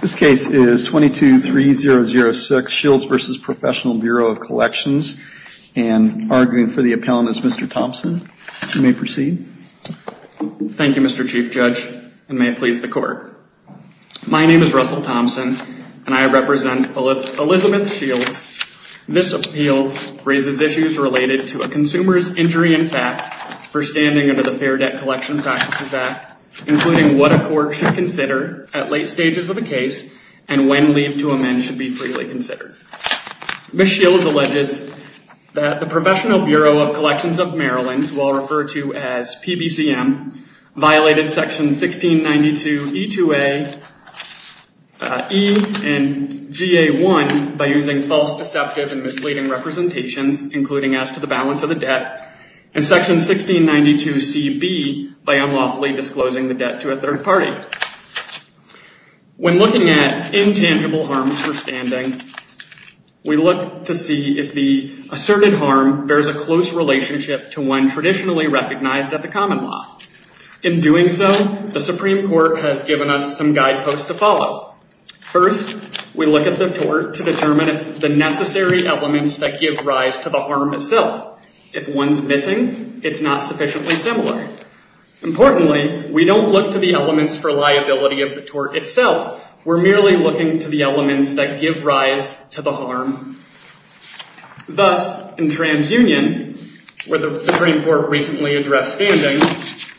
This case is 22-3006, Shields v. Professional Bureau of Collections, and arguing for the appellant is Mr. Thompson. You may proceed. Thank you, Mr. Chief Judge, and may it please the Court. My name is Russell Thompson, and I represent Elizabeth Shields. This appeal raises issues related to a consumer's injury impact for standing under the Fair Debt Collection Practices Act, including what a court should consider at late stages of the case, and when leave to amend should be freely considered. Ms. Shields alleges that the Professional Bureau of Collections of Maryland, who I'll refer to as PBCM, violated sections 1692e2a, e, and ga1 by using false, deceptive, and misleading representations, including as to the balance of the debt, and section 1692cb by unlawfully disclosing the debt to a third party. When looking at intangible harms for standing, we look to see if the asserted harm bears a close relationship to one traditionally recognized at the common law. In doing so, the Supreme Court has given us some guideposts to follow. First, we look at the tort to determine if the necessary elements that give rise to the harm itself. If one's missing, it's not sufficiently similar. Importantly, we don't look to the elements for liability of the tort itself. We're merely looking to the elements that give rise to the harm. Thus, in TransUnion, where the Supreme Court recently addressed standing,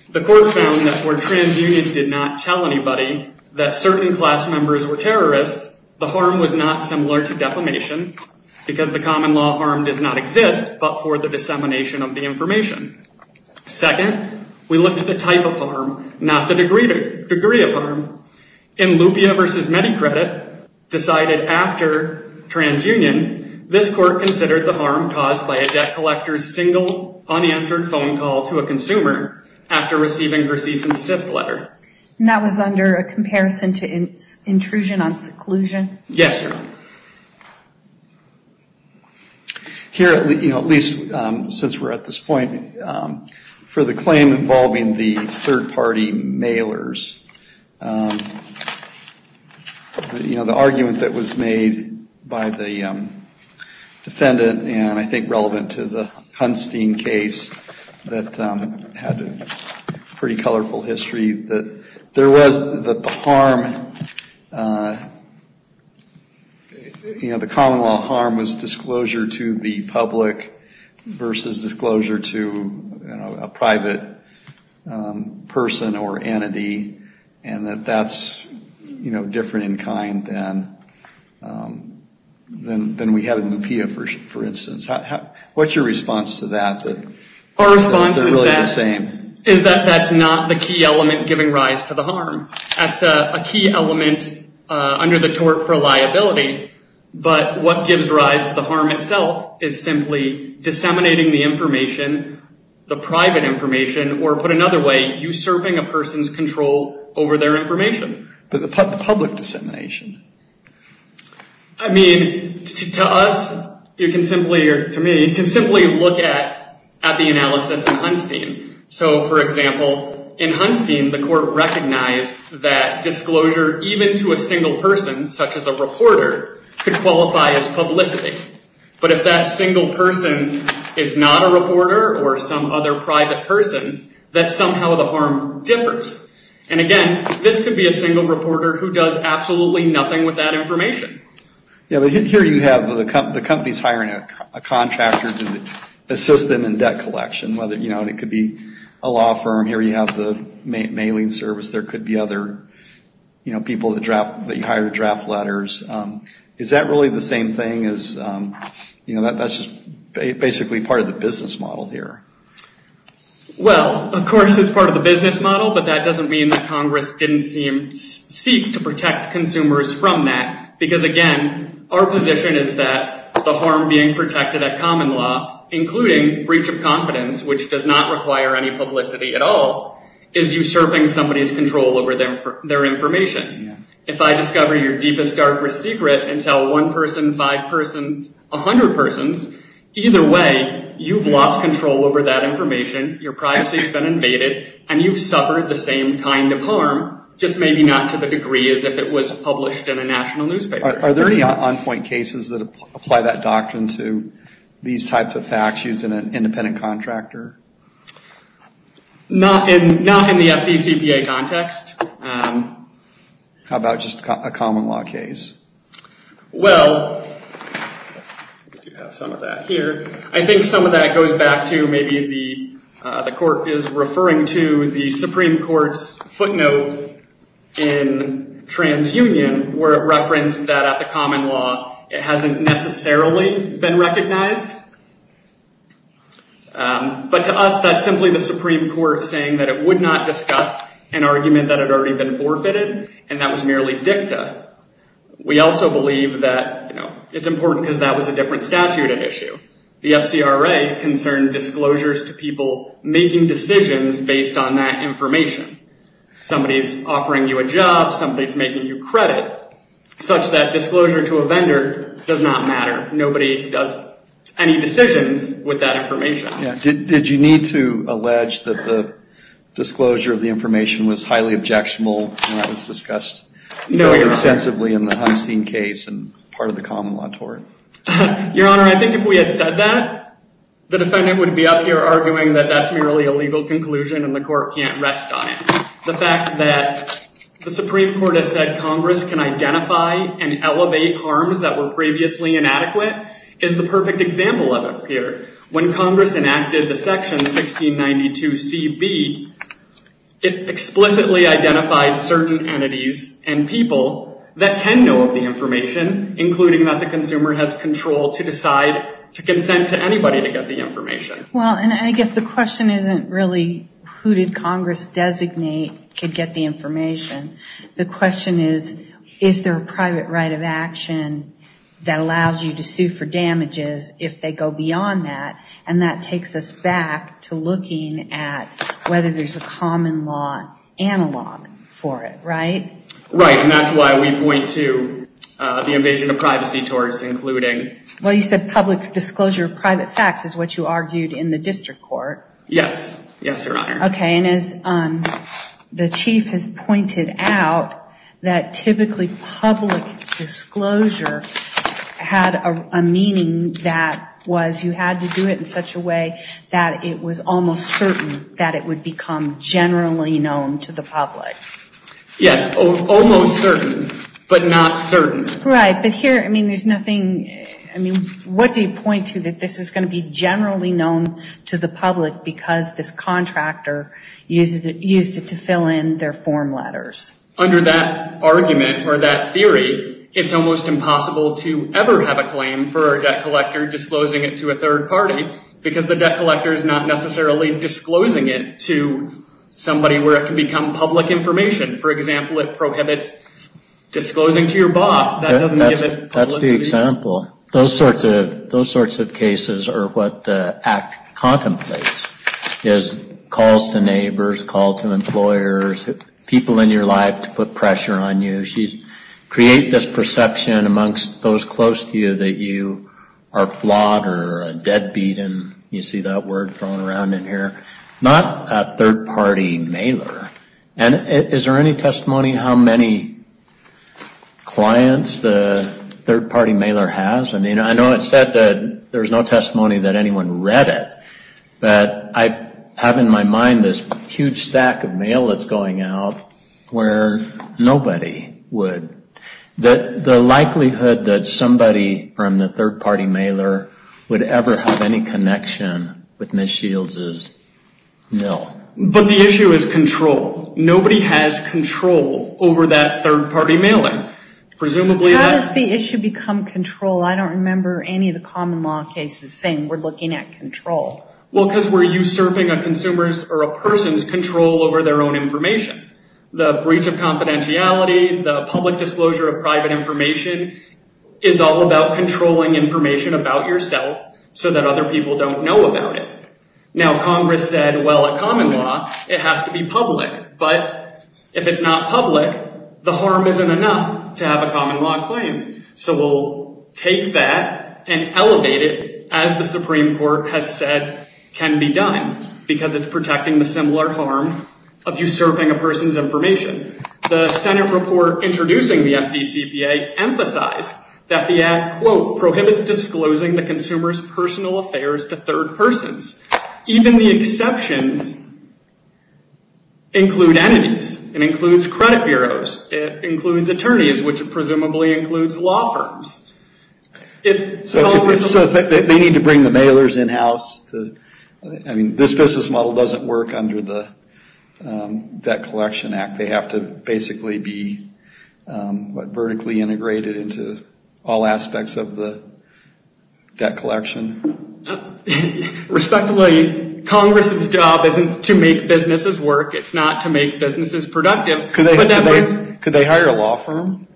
the Court found that where TransUnion did not tell anybody that certain class members were terrorists, the harm was not similar to defamation, because the common law harm does not exist but for the dissemination of the information. Second, we look at the type of harm, not the degree of harm. In Lupia v. MediCredit, decided after TransUnion, this Court considered the harm caused by a debt collector's single, unanswered phone call to a consumer after receiving her decent assist letter. That was under a comparison to intrusion on seclusion? Yes, sir. Here at least, since we're at this point, for the claim involving the third party mailers, the argument that was made by the defendant, and I think relevant to the Hunstein case that had a pretty colorful history, that there was the harm, you know, the common law harm was disclosure to the public versus disclosure to a private person or entity, and that that's, you know, different in kind than we had in Lupia, for instance. What's your response to that? Our response is that that's not the key element giving rise to the harm. That's a key element under the tort for liability, but what gives rise to the harm itself is simply disseminating the information, the private information, or put another way, usurping a person's control over their information. But the public dissemination? I mean, to us, you can simply, to me, you can simply look at the analysis in Hunstein. So, for example, in Hunstein, the court recognized that disclosure even to a single person, such as a reporter, could qualify as publicity. But if that single person is not a reporter or some other private person, that somehow the harm differs. And again, this could be a single reporter who does absolutely nothing with that information. Yeah, but here you have the companies hiring a contractor to assist them in debt collection, whether, you know, it could be a law firm. Here you have the mailing service. There could be other, you know, people that you hire to draft letters. Is that really the same thing as, you know, that's just basically part of the business model here? Well, of course it's part of the business model, but that doesn't mean that Congress didn't seek to protect consumers from that. Because again, our position is that the harm being protected at common law, including breach of confidence, which does not require any publicity at all, is usurping somebody's control over their information. If I discover your deepest, darkest secret and tell one person, five persons, a hundred persons, either way, you've lost control over that information, your privacy's been invaded, and you've suffered the same kind of harm, just maybe not to the degree as if it was published in a national newspaper. Are there any on-point cases that apply that doctrine to these types of facts using an independent contractor? Not in the FDCPA context. How about just a common law case? Well, I do have some of that here. I think some of that goes back to maybe the court is referring to the Supreme Court's footnote in TransUnion, where it referenced that at the common law, it hasn't necessarily been recognized. But to us, that's simply the Supreme Court saying that it would not discuss an argument that had already been forfeited, and that was merely dicta. We also believe that it's important because that was a different statute at issue. The FCRA concerned disclosures to people making decisions based on that information. Somebody's offering you a job, somebody's making you credit, such that disclosure to a vendor does not matter. Nobody does any decisions with that information. Did you need to allege that the disclosure of the information was highly objectionable when it was discussed extensively in the Hunstein case and part of the common law tort? Your Honor, I think if we had said that, the Supreme Court would have reached a legal conclusion and the court can't rest on it. The fact that the Supreme Court has said Congress can identify and elevate harms that were previously inadequate is the perfect example of it here. When Congress enacted the section 1692CB, it explicitly identified certain entities and people that can know of the information, including that the consumer has control to decide to consent to anybody to get the information. I guess the question isn't really who did Congress designate to get the information. The question is, is there a private right of action that allows you to sue for damages if they go beyond that? That takes us back to looking at whether there's a common law analog for it, right? Right, and that's why we point to the invasion of privacy towards including... Well, you said public disclosure of private property, as you argued in the district court. Yes, Your Honor. Okay, and as the Chief has pointed out, that typically public disclosure had a meaning that was you had to do it in such a way that it was almost certain that it would become generally known to the public. Yes, almost certain, but not certain. Right, but here, I mean, there's nothing... I mean, what do you point to that this is going to be generally known to the public because this contractor used it to fill in their form letters? Under that argument or that theory, it's almost impossible to ever have a claim for a debt collector disclosing it to a third party, because the debt collector is not necessarily disclosing it to somebody where it can become public information. For example, it prohibits disclosing to your boss. That doesn't give it publicity. That's the example. Those sorts of cases are what the Act contemplates, is calls to neighbors, calls to employers, people in your life to put pressure on you. Create this perception amongst those close to you that you are flawed or a deadbeat, and you see that word thrown around in here, not a third party mailer. Is there any testimony how many clients the third party mailer has? I mean, I know it said that there's no testimony that anyone read it, but I have in my mind this huge stack of mail that's going out where nobody would. The likelihood that somebody from the third party mailer would ever have any connection with Ms. Shields is nil. But the issue is control. Nobody has control over that third party mailing. Presumably that- How does the issue become control? I don't remember any of the common law cases saying we're looking at control. Well, because we're usurping a consumer's or a person's control over their own information. The breach of confidentiality, the public disclosure of private information is all about controlling information about yourself so that other people don't know about it. Now Congress said, well, a common law, it has to be public. But if it's not public, the harm isn't enough to have a common law claim. So we'll take that and elevate it as the Supreme Court has said can be done because it's protecting the similar harm of usurping a person's information. The Senate report introducing the FDCPA emphasized that the act, quote, prohibits disclosing the consumer's personal affairs to third persons. Even the exceptions include entities. It includes credit bureaus. It includes attorneys, which presumably includes law firms. So they need to bring the mailers in-house? This business model doesn't work under the Debt Collection Act. They have to basically be, what, vertically integrated into all aspects of the debt collection? Respectfully, Congress's job isn't to make businesses work. It's not to make businesses productive. Could they hire a law firm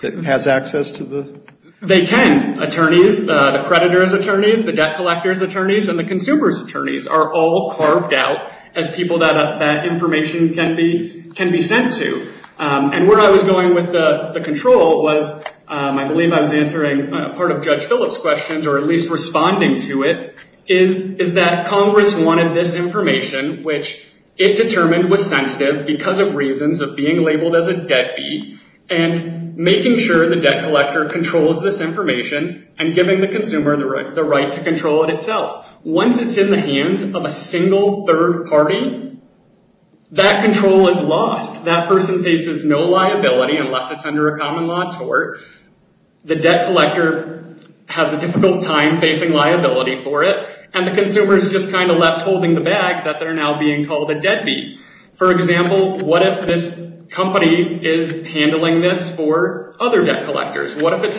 that has access to the... They can. Attorneys, the creditor's attorneys, the debt collector's attorneys, and the consumer's debt as people that that information can be sent to. And where I was going with the control was, I believe I was answering part of Judge Phillips' questions or at least responding to it, is that Congress wanted this information, which it determined was sensitive because of reasons of being labeled as a debt fee, and making sure the debt collector controls this information and giving the consumer the right to control it itself. Once it's in the hands of a single third party, that control is lost. That person faces no liability unless it's under a common law tort. The debt collector has a difficult time facing liability for it, and the consumer's just kind of left holding the bag that they're now being called a debt fee. For example, what if this company is handling this for other debt collectors? What if it's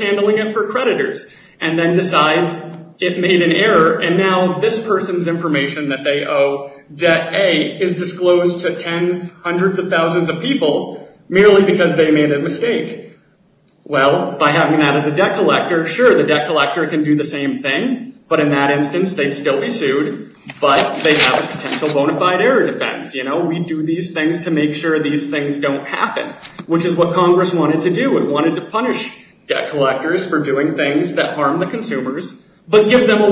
made an error and now this person's information that they owe, debt A, is disclosed to tens, hundreds of thousands of people merely because they made a mistake? Well, by having that as a debt collector, sure, the debt collector can do the same thing, but in that instance they'd still be sued, but they have a potential bonafide error defense. We do these things to make sure these things don't happen, which is what Congress wanted to do. It wanted to find a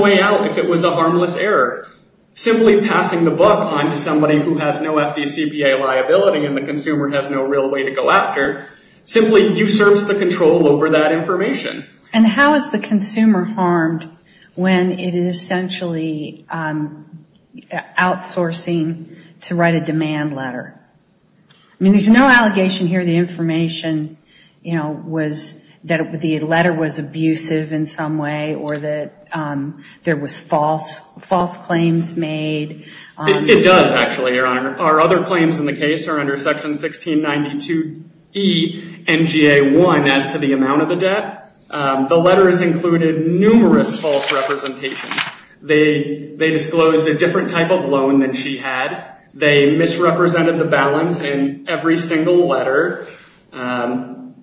way out if it was a harmless error. Simply passing the book on to somebody who has no FDCPA liability and the consumer has no real way to go after, simply usurps the control over that information. And how is the consumer harmed when it is essentially outsourcing to write a demand letter? I mean, there's no allegation here the information was, that the letter was abusive in some way or that there was false claims made. It does actually, Your Honor. Our other claims in the case are under section 1692E NGA1 as to the amount of the debt. The letters included numerous false representations. They disclosed a different type of loan than she had. They misrepresented the balance in every single letter. And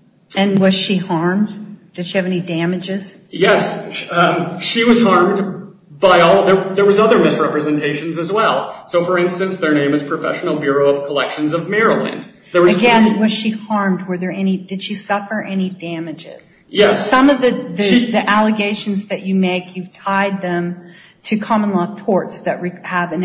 was she harmed? Did she have any damages? Yes. She was harmed by all, there was other misrepresentations as well. So, for instance, their name is Professional Bureau of Collections of Maryland. Again, was she harmed? Did she suffer any damages? Yes. Some of the allegations that you make, you've tied them to common law torts that have an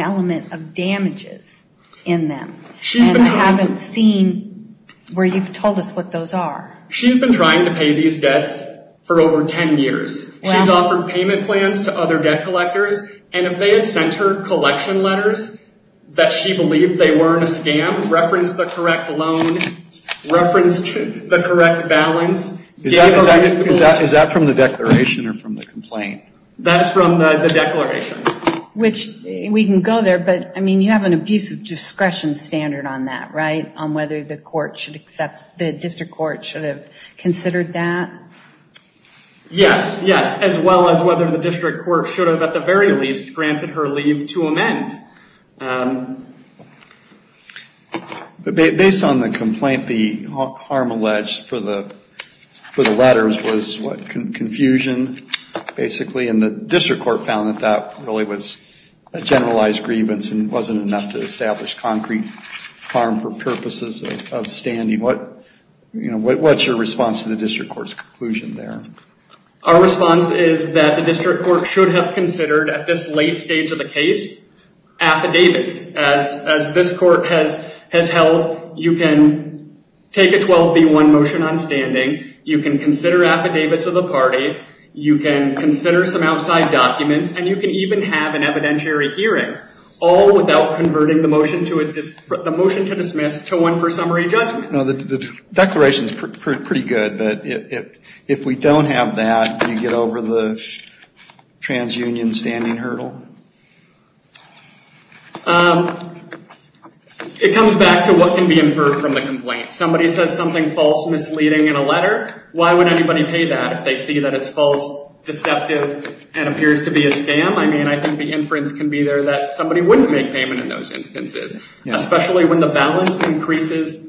where you've told us what those are. She's been trying to pay these debts for over 10 years. She's offered payment plans to other debt collectors. And if they had sent her collection letters that she believed they were a scam, referenced the correct loan, referenced the correct balance. Is that from the declaration or from the complaint? That's from the declaration. Which we can go there, but I mean, you have an abusive discretion standard on that, right? On whether the court should accept, the district court should have considered that? Yes. Yes. As well as whether the district court should have, at the very least, granted her leave to amend. Based on the complaint, the harm alleged for the letters was confusion, basically. And the district court found that that really was a generalized grievance and it wasn't enough to establish concrete harm for purposes of standing. What's your response to the district court's conclusion there? Our response is that the district court should have considered, at this late stage of the case, affidavits. As this court has held, you can take a 12B1 motion on standing, you can consider affidavits of the parties, you can consider some outside documents, and you can even have an evidentiary hearing, all without converting the motion to dismiss to one for summary judgment. No, the declaration's pretty good, but if we don't have that, do you get over the transunion standing hurdle? It comes back to what can be inferred from the complaint. Somebody says something false, misleading in a letter, why would anybody pay that if they see that it's false, deceptive, and appears to be a scam? I mean, I think the inference can be there that somebody wouldn't make payment in those instances, especially when the balance increases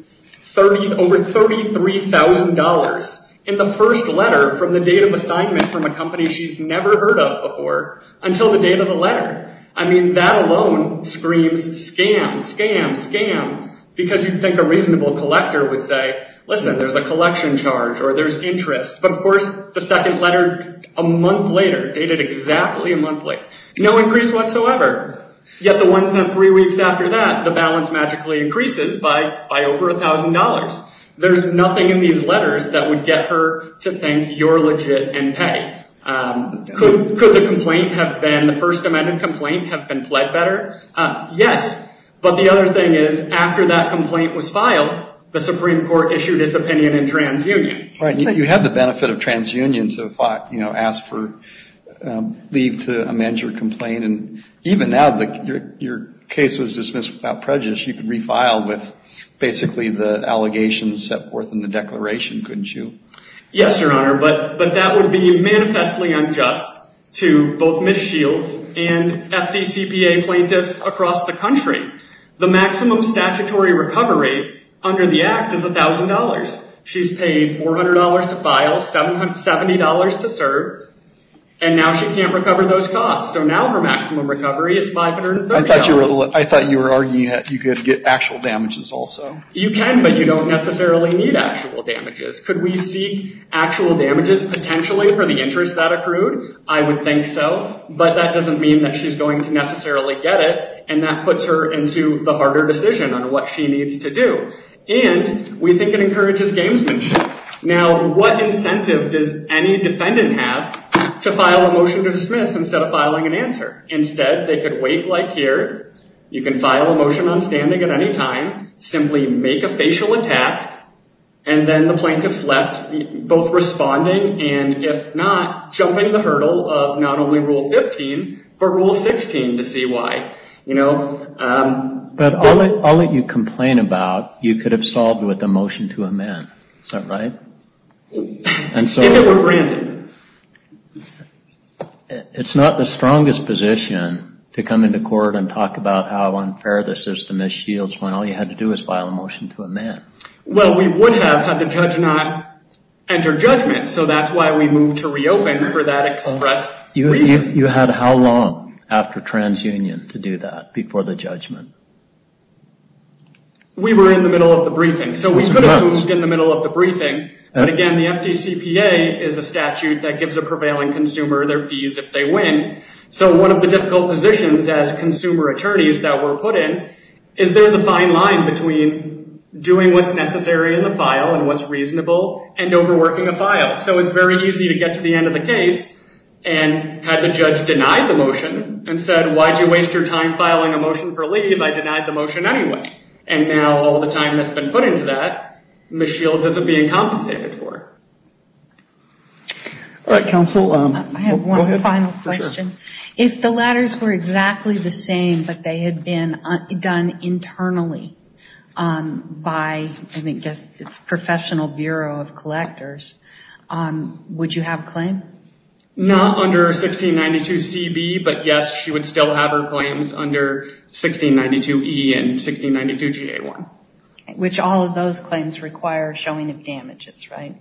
over $33,000 in the first letter from the date of assignment from a company she's never heard of before until the date of the letter. I mean, that alone screams scam, scam, scam, because you think a reasonable collector would say, listen, there's a collection charge or there's interest. But of course, the second letter a month later, dated exactly a month late, no increase whatsoever. Yet the ones in three weeks after that, the balance magically increases by over $1,000. There's nothing in these letters that would get her to think you're legit and pay. Could the complaint have been, the First Amendment complaint, have been pled better? Yes, but the other thing is, after that complaint was filed, the Supreme Court issued its opinion in transunion. Right. You had the benefit of transunion to ask for leave to amend your complaint. And even now, your case was dismissed without prejudice. You could refile with basically the allegations set forth in the declaration, couldn't you? Yes, Your Honor, but that would be manifestly unjust to both Ms. Shields and FDCPA plaintiffs across the country. The maximum statutory recovery under the Act is $1,000. She's paid $400 to file, $70 to serve, and now she can't recover those costs. So now her maximum recovery is $530. I thought you were arguing that you could get actual damages also. You can, but you don't necessarily need actual damages. Could we seek actual damages potentially for the interest that accrued? I would think so, but that doesn't mean that she's going to necessarily get it, and that puts her into the harder decision on what she needs to do. And we think it encourages gamesmanship. Now, what incentive does any defendant have to file a motion to dismiss instead of filing an answer? Instead, they could wait like here. You can file a motion on standing at any time, simply make a facial attack, and then the plaintiffs left both responding, and if not, jumping the hurdle of not only Rule 15, but Rule 16 to see why. But I'll let you complain about you could have solved with a motion to amend. Is that right? If it were granted. It's not the strongest position to come into court and talk about how unfair this is to Ms. Shields when all you had to do was file a motion to amend. Well, we would have had the judge not enter judgment, so that's why we moved to reopen for that express reason. You had how long after transunion to do that before the judgment? We were in the middle of the briefing, so we could have moved in the middle of the briefing, but again, the FDCPA is a statute that gives a prevailing consumer their fees if they win. So one of the difficult positions as consumer attorneys that we're put in is there's a fine line between doing what's necessary in the file and what's reasonable and overworking the file. So it's very easy to get to the end of the case and have the judge deny the motion and said, why'd you waste your time filing a motion for leave? I denied the motion anyway. And now all the time that's been put into that, Ms. Shields isn't being compensated for. All right, counsel. I have one final question. If the latters were exactly the same, but they had been done internally by, I think, it's Professional Bureau of Collectors, would you have a claim? Not under 1692CB, but yes, she would still have her claims under 1692E and 1692GA1. Which all of those claims require showing of damages, right?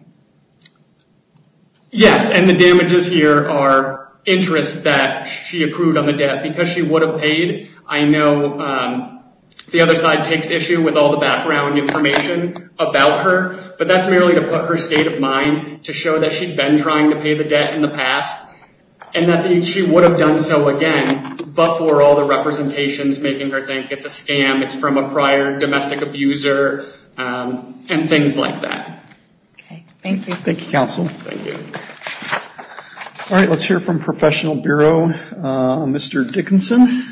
Yes, and the damages here are interest that she approved on the debt. Because she would have paid, I know the other side takes issue with all the background information about her. But that's merely to put her state of mind, to show that she'd been trying to pay the debt in the past. And that she would have done so again, but for all the representations making her think it's a scam, it's from a prior domestic abuser, and things like that. Okay, thank you. Thank you, counsel. Thank you. All right, let's hear from Professional Bureau, Mr. Dickinson.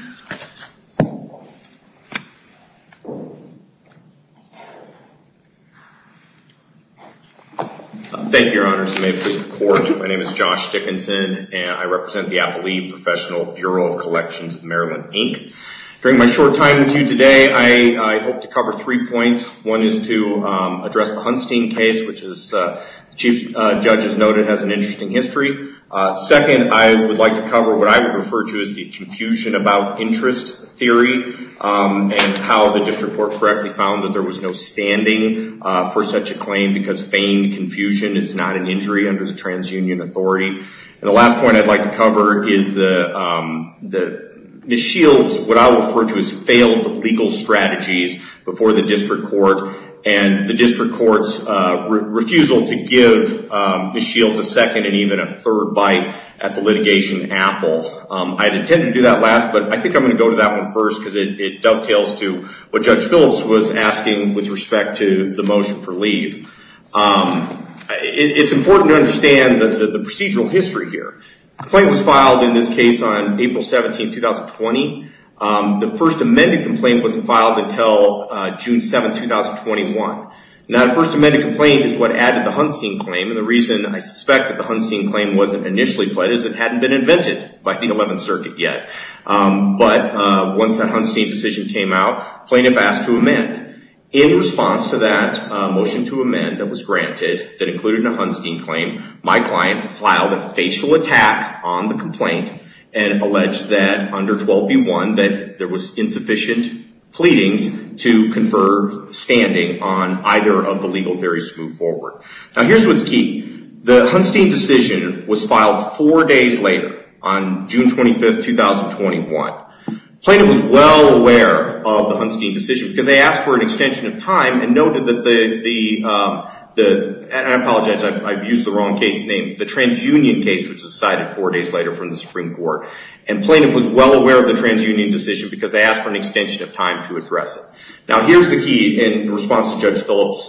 Thank you, Your Honors, and may it please the Court. My name is Josh Dickinson, and I represent the Appellee Professional Bureau of Collections of Maryland, Inc. During my short time with you today, I hope to cover three points. One is to address the Hunstein case, which as the Chief Judge has noted, has an interesting history. Second, I would like to cover what I would refer to as the confusion about interest theory, and how the District Court correctly found that there was no standing for such a claim, because feigned confusion is not an injury under the TransUnion Authority. And the last point I'd like to cover is that Ms. Shields, what I would refer to as failed legal strategies before the District Court, and the District Court's refusal to give Ms. Shields a second and even a third bite at the litigation in Apple. I had intended to do that last, but I think I'm going to go to that one first, because it dovetails to what Judge Phillips was asking with respect to the motion for leave. It's important to understand the procedural history here. The claim was filed in this case on April 17, 2020. The first amended complaint wasn't filed until June 7, 2021. Now, the first amended complaint is what added the Hunstein claim, and the reason I suspect the Hunstein claim wasn't initially pledged is it hadn't been invented by the 11th Circuit yet. But once that Hunstein decision came out, plaintiff asked to amend. In response to that motion to amend that was granted, that included a Hunstein claim, my client filed a facial attack on the complaint, and alleged that under 12b1, that there was insufficient pleadings to confer standing on either of the legal theories to move forward. Now, here's what's key. The Hunstein decision was filed four days later on June 25, 2021. Plaintiff was well aware of the Hunstein decision, because they asked for an extension of time and noted that the, I apologize, I've used the wrong case name, the TransUnion case, which was cited four days later from the Supreme Court. And plaintiff was well aware of the TransUnion decision, because they asked for an extension of time to address it. Now, here's the key in response to Judge Phillips'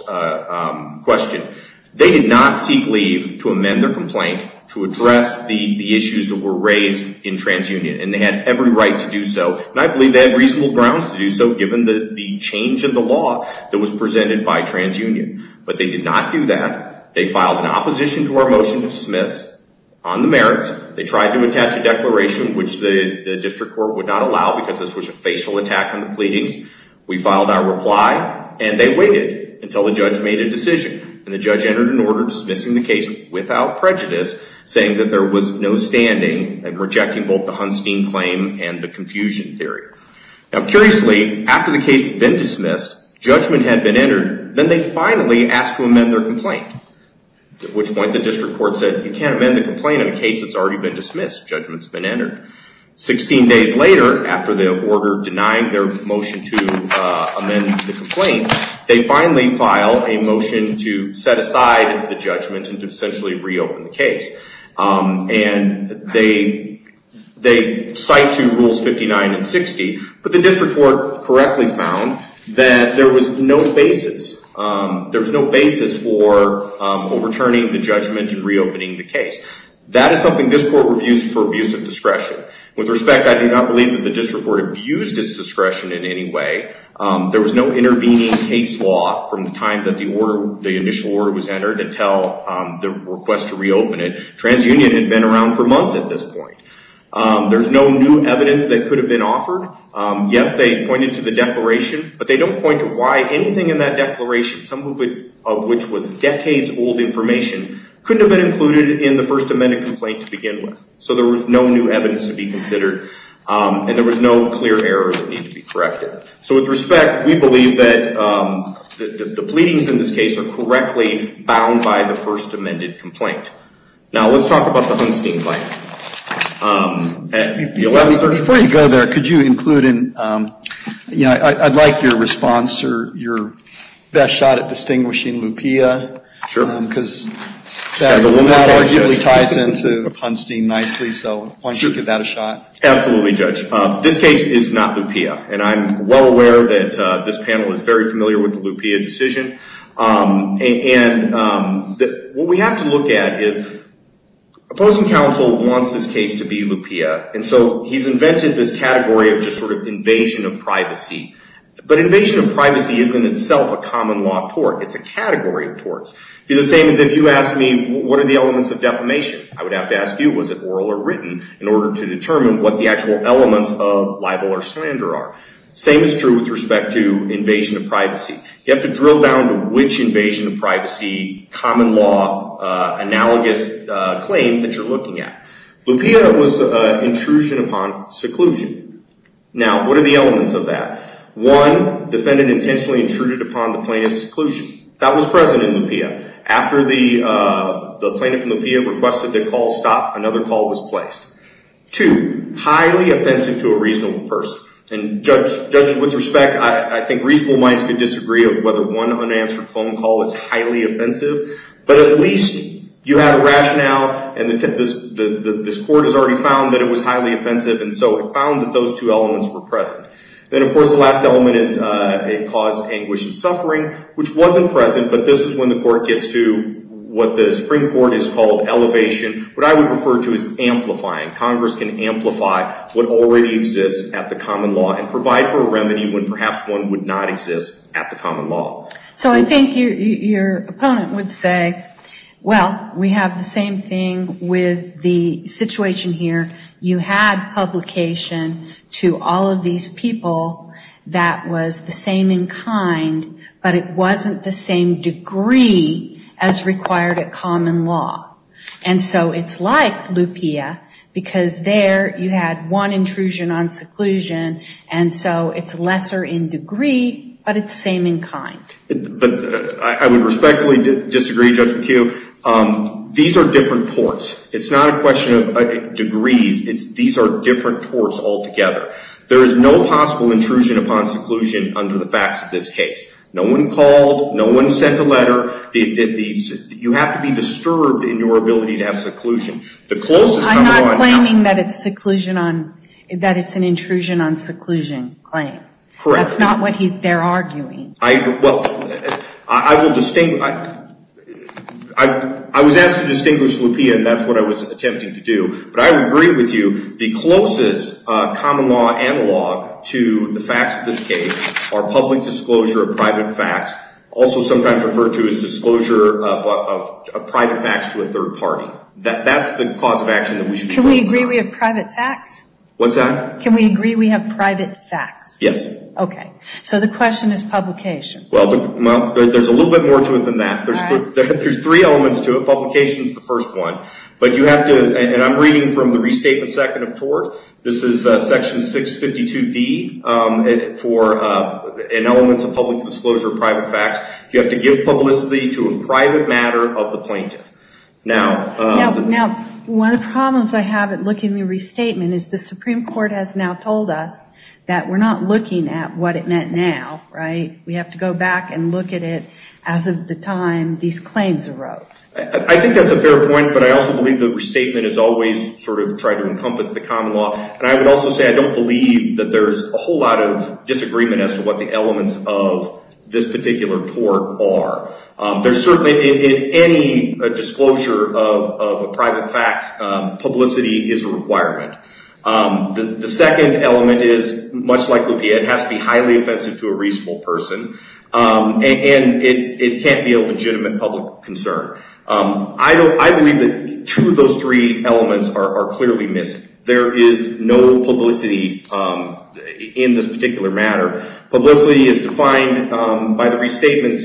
question. They did not seek leave to amend their complaint to address the issues that were raised in TransUnion, and they had every right to do so, and I believe they had reasonable grounds to do so, given the change in the law that was presented by TransUnion. But they did not do that. They filed an opposition to our motion to dismiss on the merits. They tried to attach a declaration, which the district court would not allow, because this was a facial attack on the pleadings. We filed our reply, and they waited until the judge made a decision. And the judge entered an order dismissing the case without prejudice, saying that there was no standing and rejecting both the Hunstein claim and the confusion theory. Now, curiously, after the case had been dismissed, judgment had been entered, then they finally asked to amend their complaint, at which point the district court said, you can't amend the complaint in a case that's already been dismissed. Judgment's been entered. Sixteen days later, after the order denying their motion to amend the complaint, they finally file a motion to set aside the judgment and to essentially reopen the case. And they cite to Rules 59 and 60, but the district court correctly found that there was no basis. There was no basis for overturning the judgment and reopening the case. That is something this court reviews for abuse of discretion. With respect, I do not believe that the district court abused its discretion in any way. There was no intervening case law from the time that the initial order was entered until the request to reopen it. TransUnion had been around for months at this point. There's no new evidence that could have been offered. Yes, they pointed to the declaration, but they don't point to why anything in that declaration, some of which was decades-old information, couldn't have been included in the First Amendment complaint to begin with. So there was no new evidence to be considered, and there was no clear error that needed to be corrected. So with respect, we believe that the pleadings in this case are correctly bound by the First Amendment complaint. Now, let's talk about the Hunstein bite. Before you go there, I'd like your response or your best shot at distinguishing LuPia. Sure. Because that ties into Hunstein nicely, so why don't you give that a shot? Absolutely, Judge. This case is not LuPia, and I'm well aware that this panel is very familiar with the LuPia decision. And what we have to look at is opposing counsel wants this case to be LuPia, and so he's invented this category of just sort of invasion of privacy. But invasion of privacy is in itself a common law tort. It's a category of torts. It'd be the same as if you asked me, what are the elements of defamation? I would have to ask you, was it oral or written, in order to determine what the actual elements of libel or slander are. Same is true with respect to invasion of privacy. You have to drill down to which invasion of privacy common law analogous claim that you're looking at. LuPia was an intrusion upon seclusion. Now, what are the elements of that? One, defendant intentionally intruded upon the plaintiff's seclusion. That was present in LuPia. After the plaintiff from LuPia requested the call stop, another call was placed. Two, highly offensive to a reasonable person. And, judges, with respect, I think reasonable minds could disagree of whether one unanswered phone call is highly offensive. But at least you have a rationale, and this court has already found that it was highly offensive, and so it found that those two elements were present. Then, of course, the last element is a cause of anguish and suffering, which wasn't present, but this is when the court gets to what the Supreme Court has called elevation, what I would refer to as amplifying. Congress can amplify what already exists at the common law and provide for a remedy when perhaps one would not exist at the common law. So I think your opponent would say, well, we have the same thing with the situation here. You had publication to all of these people that was the same in kind, but it wasn't the same degree as required at common law. And so it's like LuPia, because there you had one intrusion on seclusion, and so it's lesser in degree, but it's the same in kind. I would respectfully disagree, Judge McHugh. These are different courts. It's not a question of degrees. These are different courts altogether. There is no possible intrusion upon seclusion under the facts of this case. No one called. No one sent a letter. You have to be disturbed in your ability to have seclusion. I'm not claiming that it's an intrusion on seclusion claim. Correct. That's not what they're arguing. Well, I was asked to distinguish LuPia, and that's what I was attempting to do. But I would agree with you, the closest common law analog to the facts of this case are public disclosure of private facts, also sometimes referred to as disclosure of private facts to a third party. That's the cause of action that we should be talking about. Can we agree we have private facts? What's that? Can we agree we have private facts? Yes. Okay. So the question is publication. Well, there's a little bit more to it than that. There's three elements to it. Publication is the first one. But you have to, and I'm reading from the Restatement Second of Tort. This is Section 652D for elements of public disclosure of private facts. You have to give publicity to a private matter of the plaintiff. Now, one of the problems I have at looking at the Restatement is the Supreme Court has now told us that we're not looking at what it meant now, right? We have to go back and look at it as of the time these claims arose. I think that's a fair point, but I also believe the Restatement has always sort of tried to encompass the common law, and I would also say I don't believe that there's a whole lot of disagreement as to what the elements of this particular tort are. There's certainly, in any disclosure of a private fact, publicity is a requirement. The second element is, much like Lupia, it has to be highly offensive to a reasonable person, and it can't be a legitimate public concern. I believe that two of those three elements are clearly missing. There is no publicity in this particular matter. Publicity, as defined by the Restatements,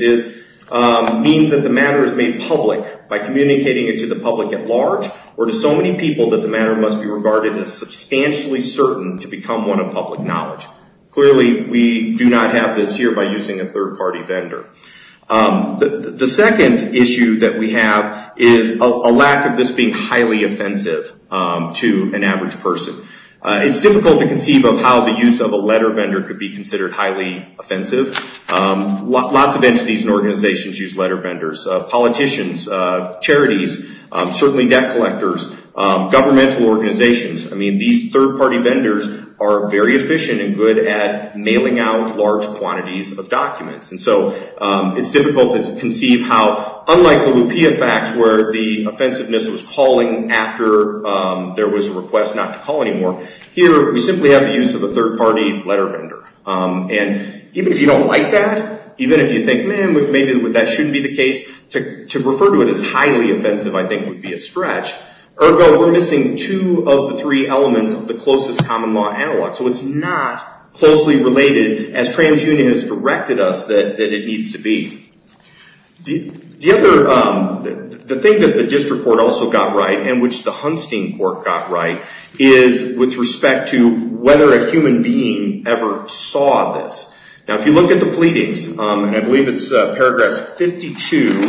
means that the matter is made public by communicating it to the public at large or to so many people that the matter must be regarded as substantially certain to become one of public knowledge. Clearly, we do not have this here by using a third-party vendor. The second issue that we have is a lack of this being highly offensive to an average person. It's difficult to conceive of how the use of a letter vendor could be considered highly offensive. Lots of entities and organizations use letter vendors. Politicians, charities, certainly debt collectors, governmental organizations. These third-party vendors are very efficient and good at mailing out large quantities of documents. It's difficult to conceive how, unlike the Lupia facts, where the offensiveness was calling after there was a request not to call anymore, here we simply have the use of a third-party letter vendor. Even if you don't like that, even if you think, maybe that shouldn't be the case, to refer to it as highly offensive, I think, would be a stretch. Ergo, we're missing two of the three elements of the closest common law analog. It's not closely related, as TransUnion has directed us, that it needs to be. The thing that the district court also got right, and which the Hunstein court got right, is with respect to whether a human being ever saw this. If you look at the pleadings, and I believe it's paragraphs 52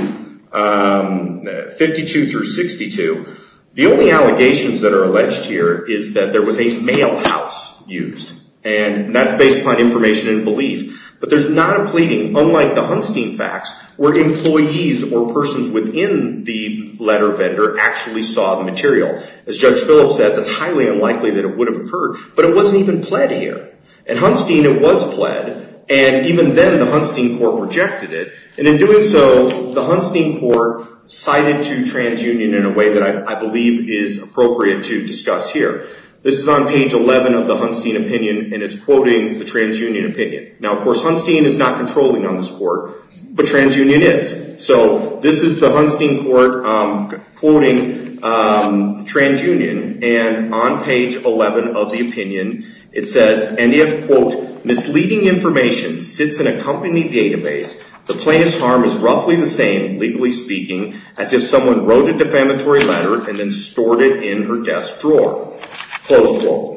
through 62, the only allegations that are alleged here is that there was a mail house used. And that's based upon information and belief. But there's not a pleading, unlike the Hunstein facts, where employees or persons within the letter vendor actually saw the material. As Judge Phillips said, it's highly unlikely that it would have occurred. But it wasn't even pled here. In Hunstein, it was pled. And even then, the Hunstein court rejected it. And in doing so, the Hunstein court cited to TransUnion in a way that I believe is appropriate to discuss here. This is on page 11 of the Hunstein opinion, and it's quoting the TransUnion opinion. Now, of course, Hunstein is not controlling on this court, but TransUnion is. So this is the Hunstein court quoting TransUnion. And on page 11 of the opinion, it says, and if, quote, misleading information sits in a company database, the plaintiff's harm is roughly the same, legally speaking, as if someone wrote a defamatory letter and then stored it in her desk drawer. Close quote.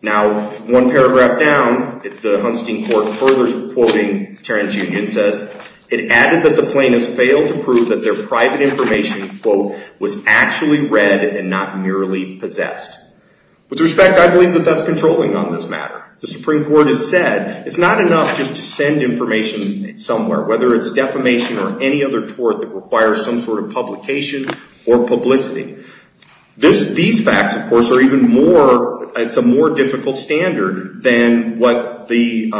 Now, one paragraph down, the Hunstein court furthers quoting TransUnion and says, it added that the plaintiffs failed to prove that their private information, quote, was actually read and not merely possessed. With respect, I believe that that's controlling on this matter. The Supreme Court has said it's not enough just to send information somewhere, whether it's defamation or any other tort that requires some sort of publication or publicity. These facts, of course, are even more, it's a more difficult standard than what the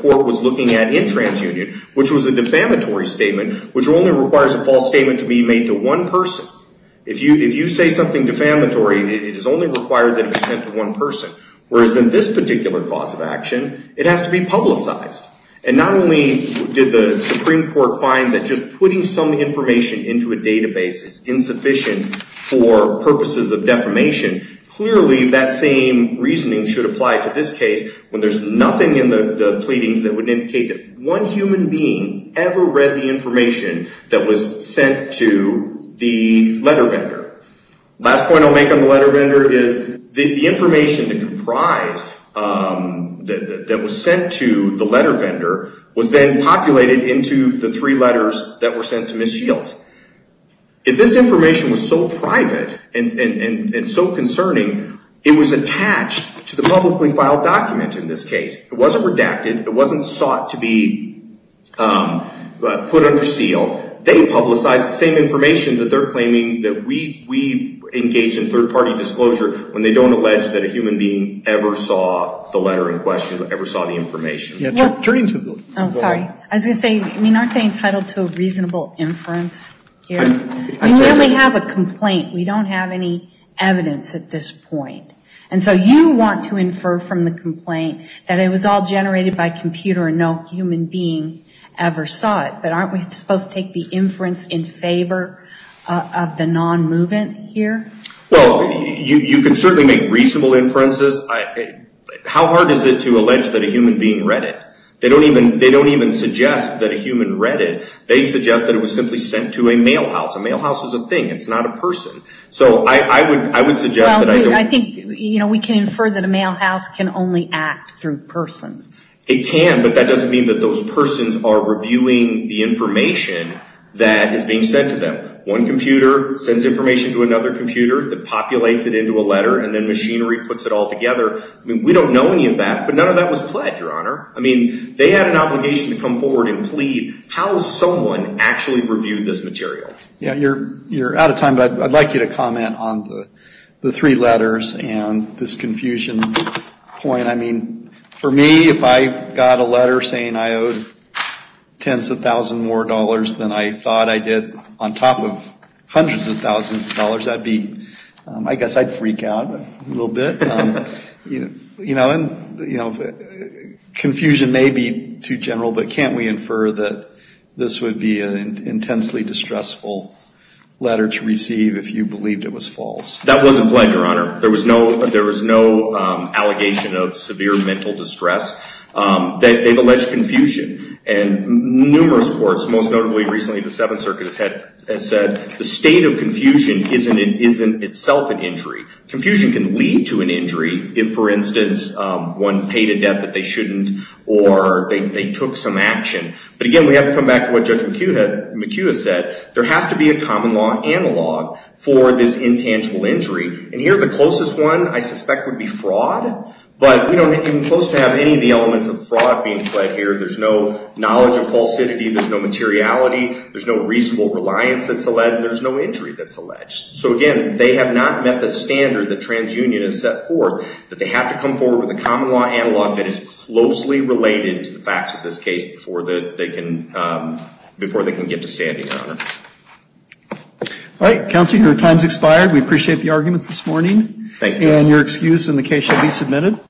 court was looking at in TransUnion, which was a defamatory statement, which only requires a false statement to be made to one person. If you say something defamatory, it is only required that it be sent to one person. Whereas in this particular cause of action, it has to be publicized. And not only did the Supreme Court find that just putting some information into a database is insufficient for purposes of defamation, clearly that same reasoning should apply to this case, when there's nothing in the pleadings that would indicate that one human being ever read the information that was sent to the letter vendor. Last point I'll make on the letter vendor is the information that comprised, that was sent to the letter vendor, was then populated into the three letters that were sent to Ms. Shields. If this information was so private and so concerning, it was attached to the publicly filed document in this case. It wasn't redacted. It wasn't sought to be put under seal. They publicized the same information that they're claiming that we engage in third-party disclosure when they don't allege that a human being ever saw the letter in question, ever saw the information. I was going to say, aren't they entitled to a reasonable inference here? We only have a complaint. We don't have any evidence at this point. And so you want to infer from the complaint that it was all generated by computer and no human being ever saw it. But aren't we supposed to take the inference in favor of the non-movement here? Well, you can certainly make reasonable inferences. How hard is it to allege that a human being read it? They don't even suggest that a human read it. They suggest that it was simply sent to a mail house. A mail house is a thing. It's not a person. So I would suggest that I don't. Well, I think, you know, we can infer that a mail house can only act through persons. It can, but that doesn't mean that those persons are reviewing the information that is being sent to them. One computer sends information to another computer that populates it into a letter and then machinery puts it all together. I mean, we don't know any of that, but none of that was pledged, Your Honor. I mean, they had an obligation to come forward and plead. How has someone actually reviewed this material? You're out of time, but I'd like you to comment on the three letters and this confusion point. I mean, for me, if I got a letter saying I owed tens of thousands more dollars than I thought I did on top of hundreds of thousands of dollars, I guess I'd freak out a little bit. You know, and confusion may be too general, but can't we infer that this would be an intensely distressful letter to receive if you believed it was false? That wasn't pledged, Your Honor. There was no allegation of severe mental distress. They've alleged confusion, and numerous courts, most notably recently the Seventh Circuit has said the state of confusion isn't itself an injury. Confusion can lead to an injury if, for instance, one paid a debt that they shouldn't, or they took some action. But again, we have to come back to what Judge McHugh has said. There has to be a common law analog for this intangible injury. And here, the closest one, I suspect, would be fraud, but we don't even close to have any of the elements of fraud being pled here. There's no knowledge of falsity. There's no materiality. So again, they have not met the standard that TransUnion has set forth, that they have to come forward with a common law analog that is closely related to the facts of this case before they can get to standing, Your Honor. All right, Counselor, your time has expired. We appreciate the arguments this morning. Thank you. And your excuse in the case shall be submitted.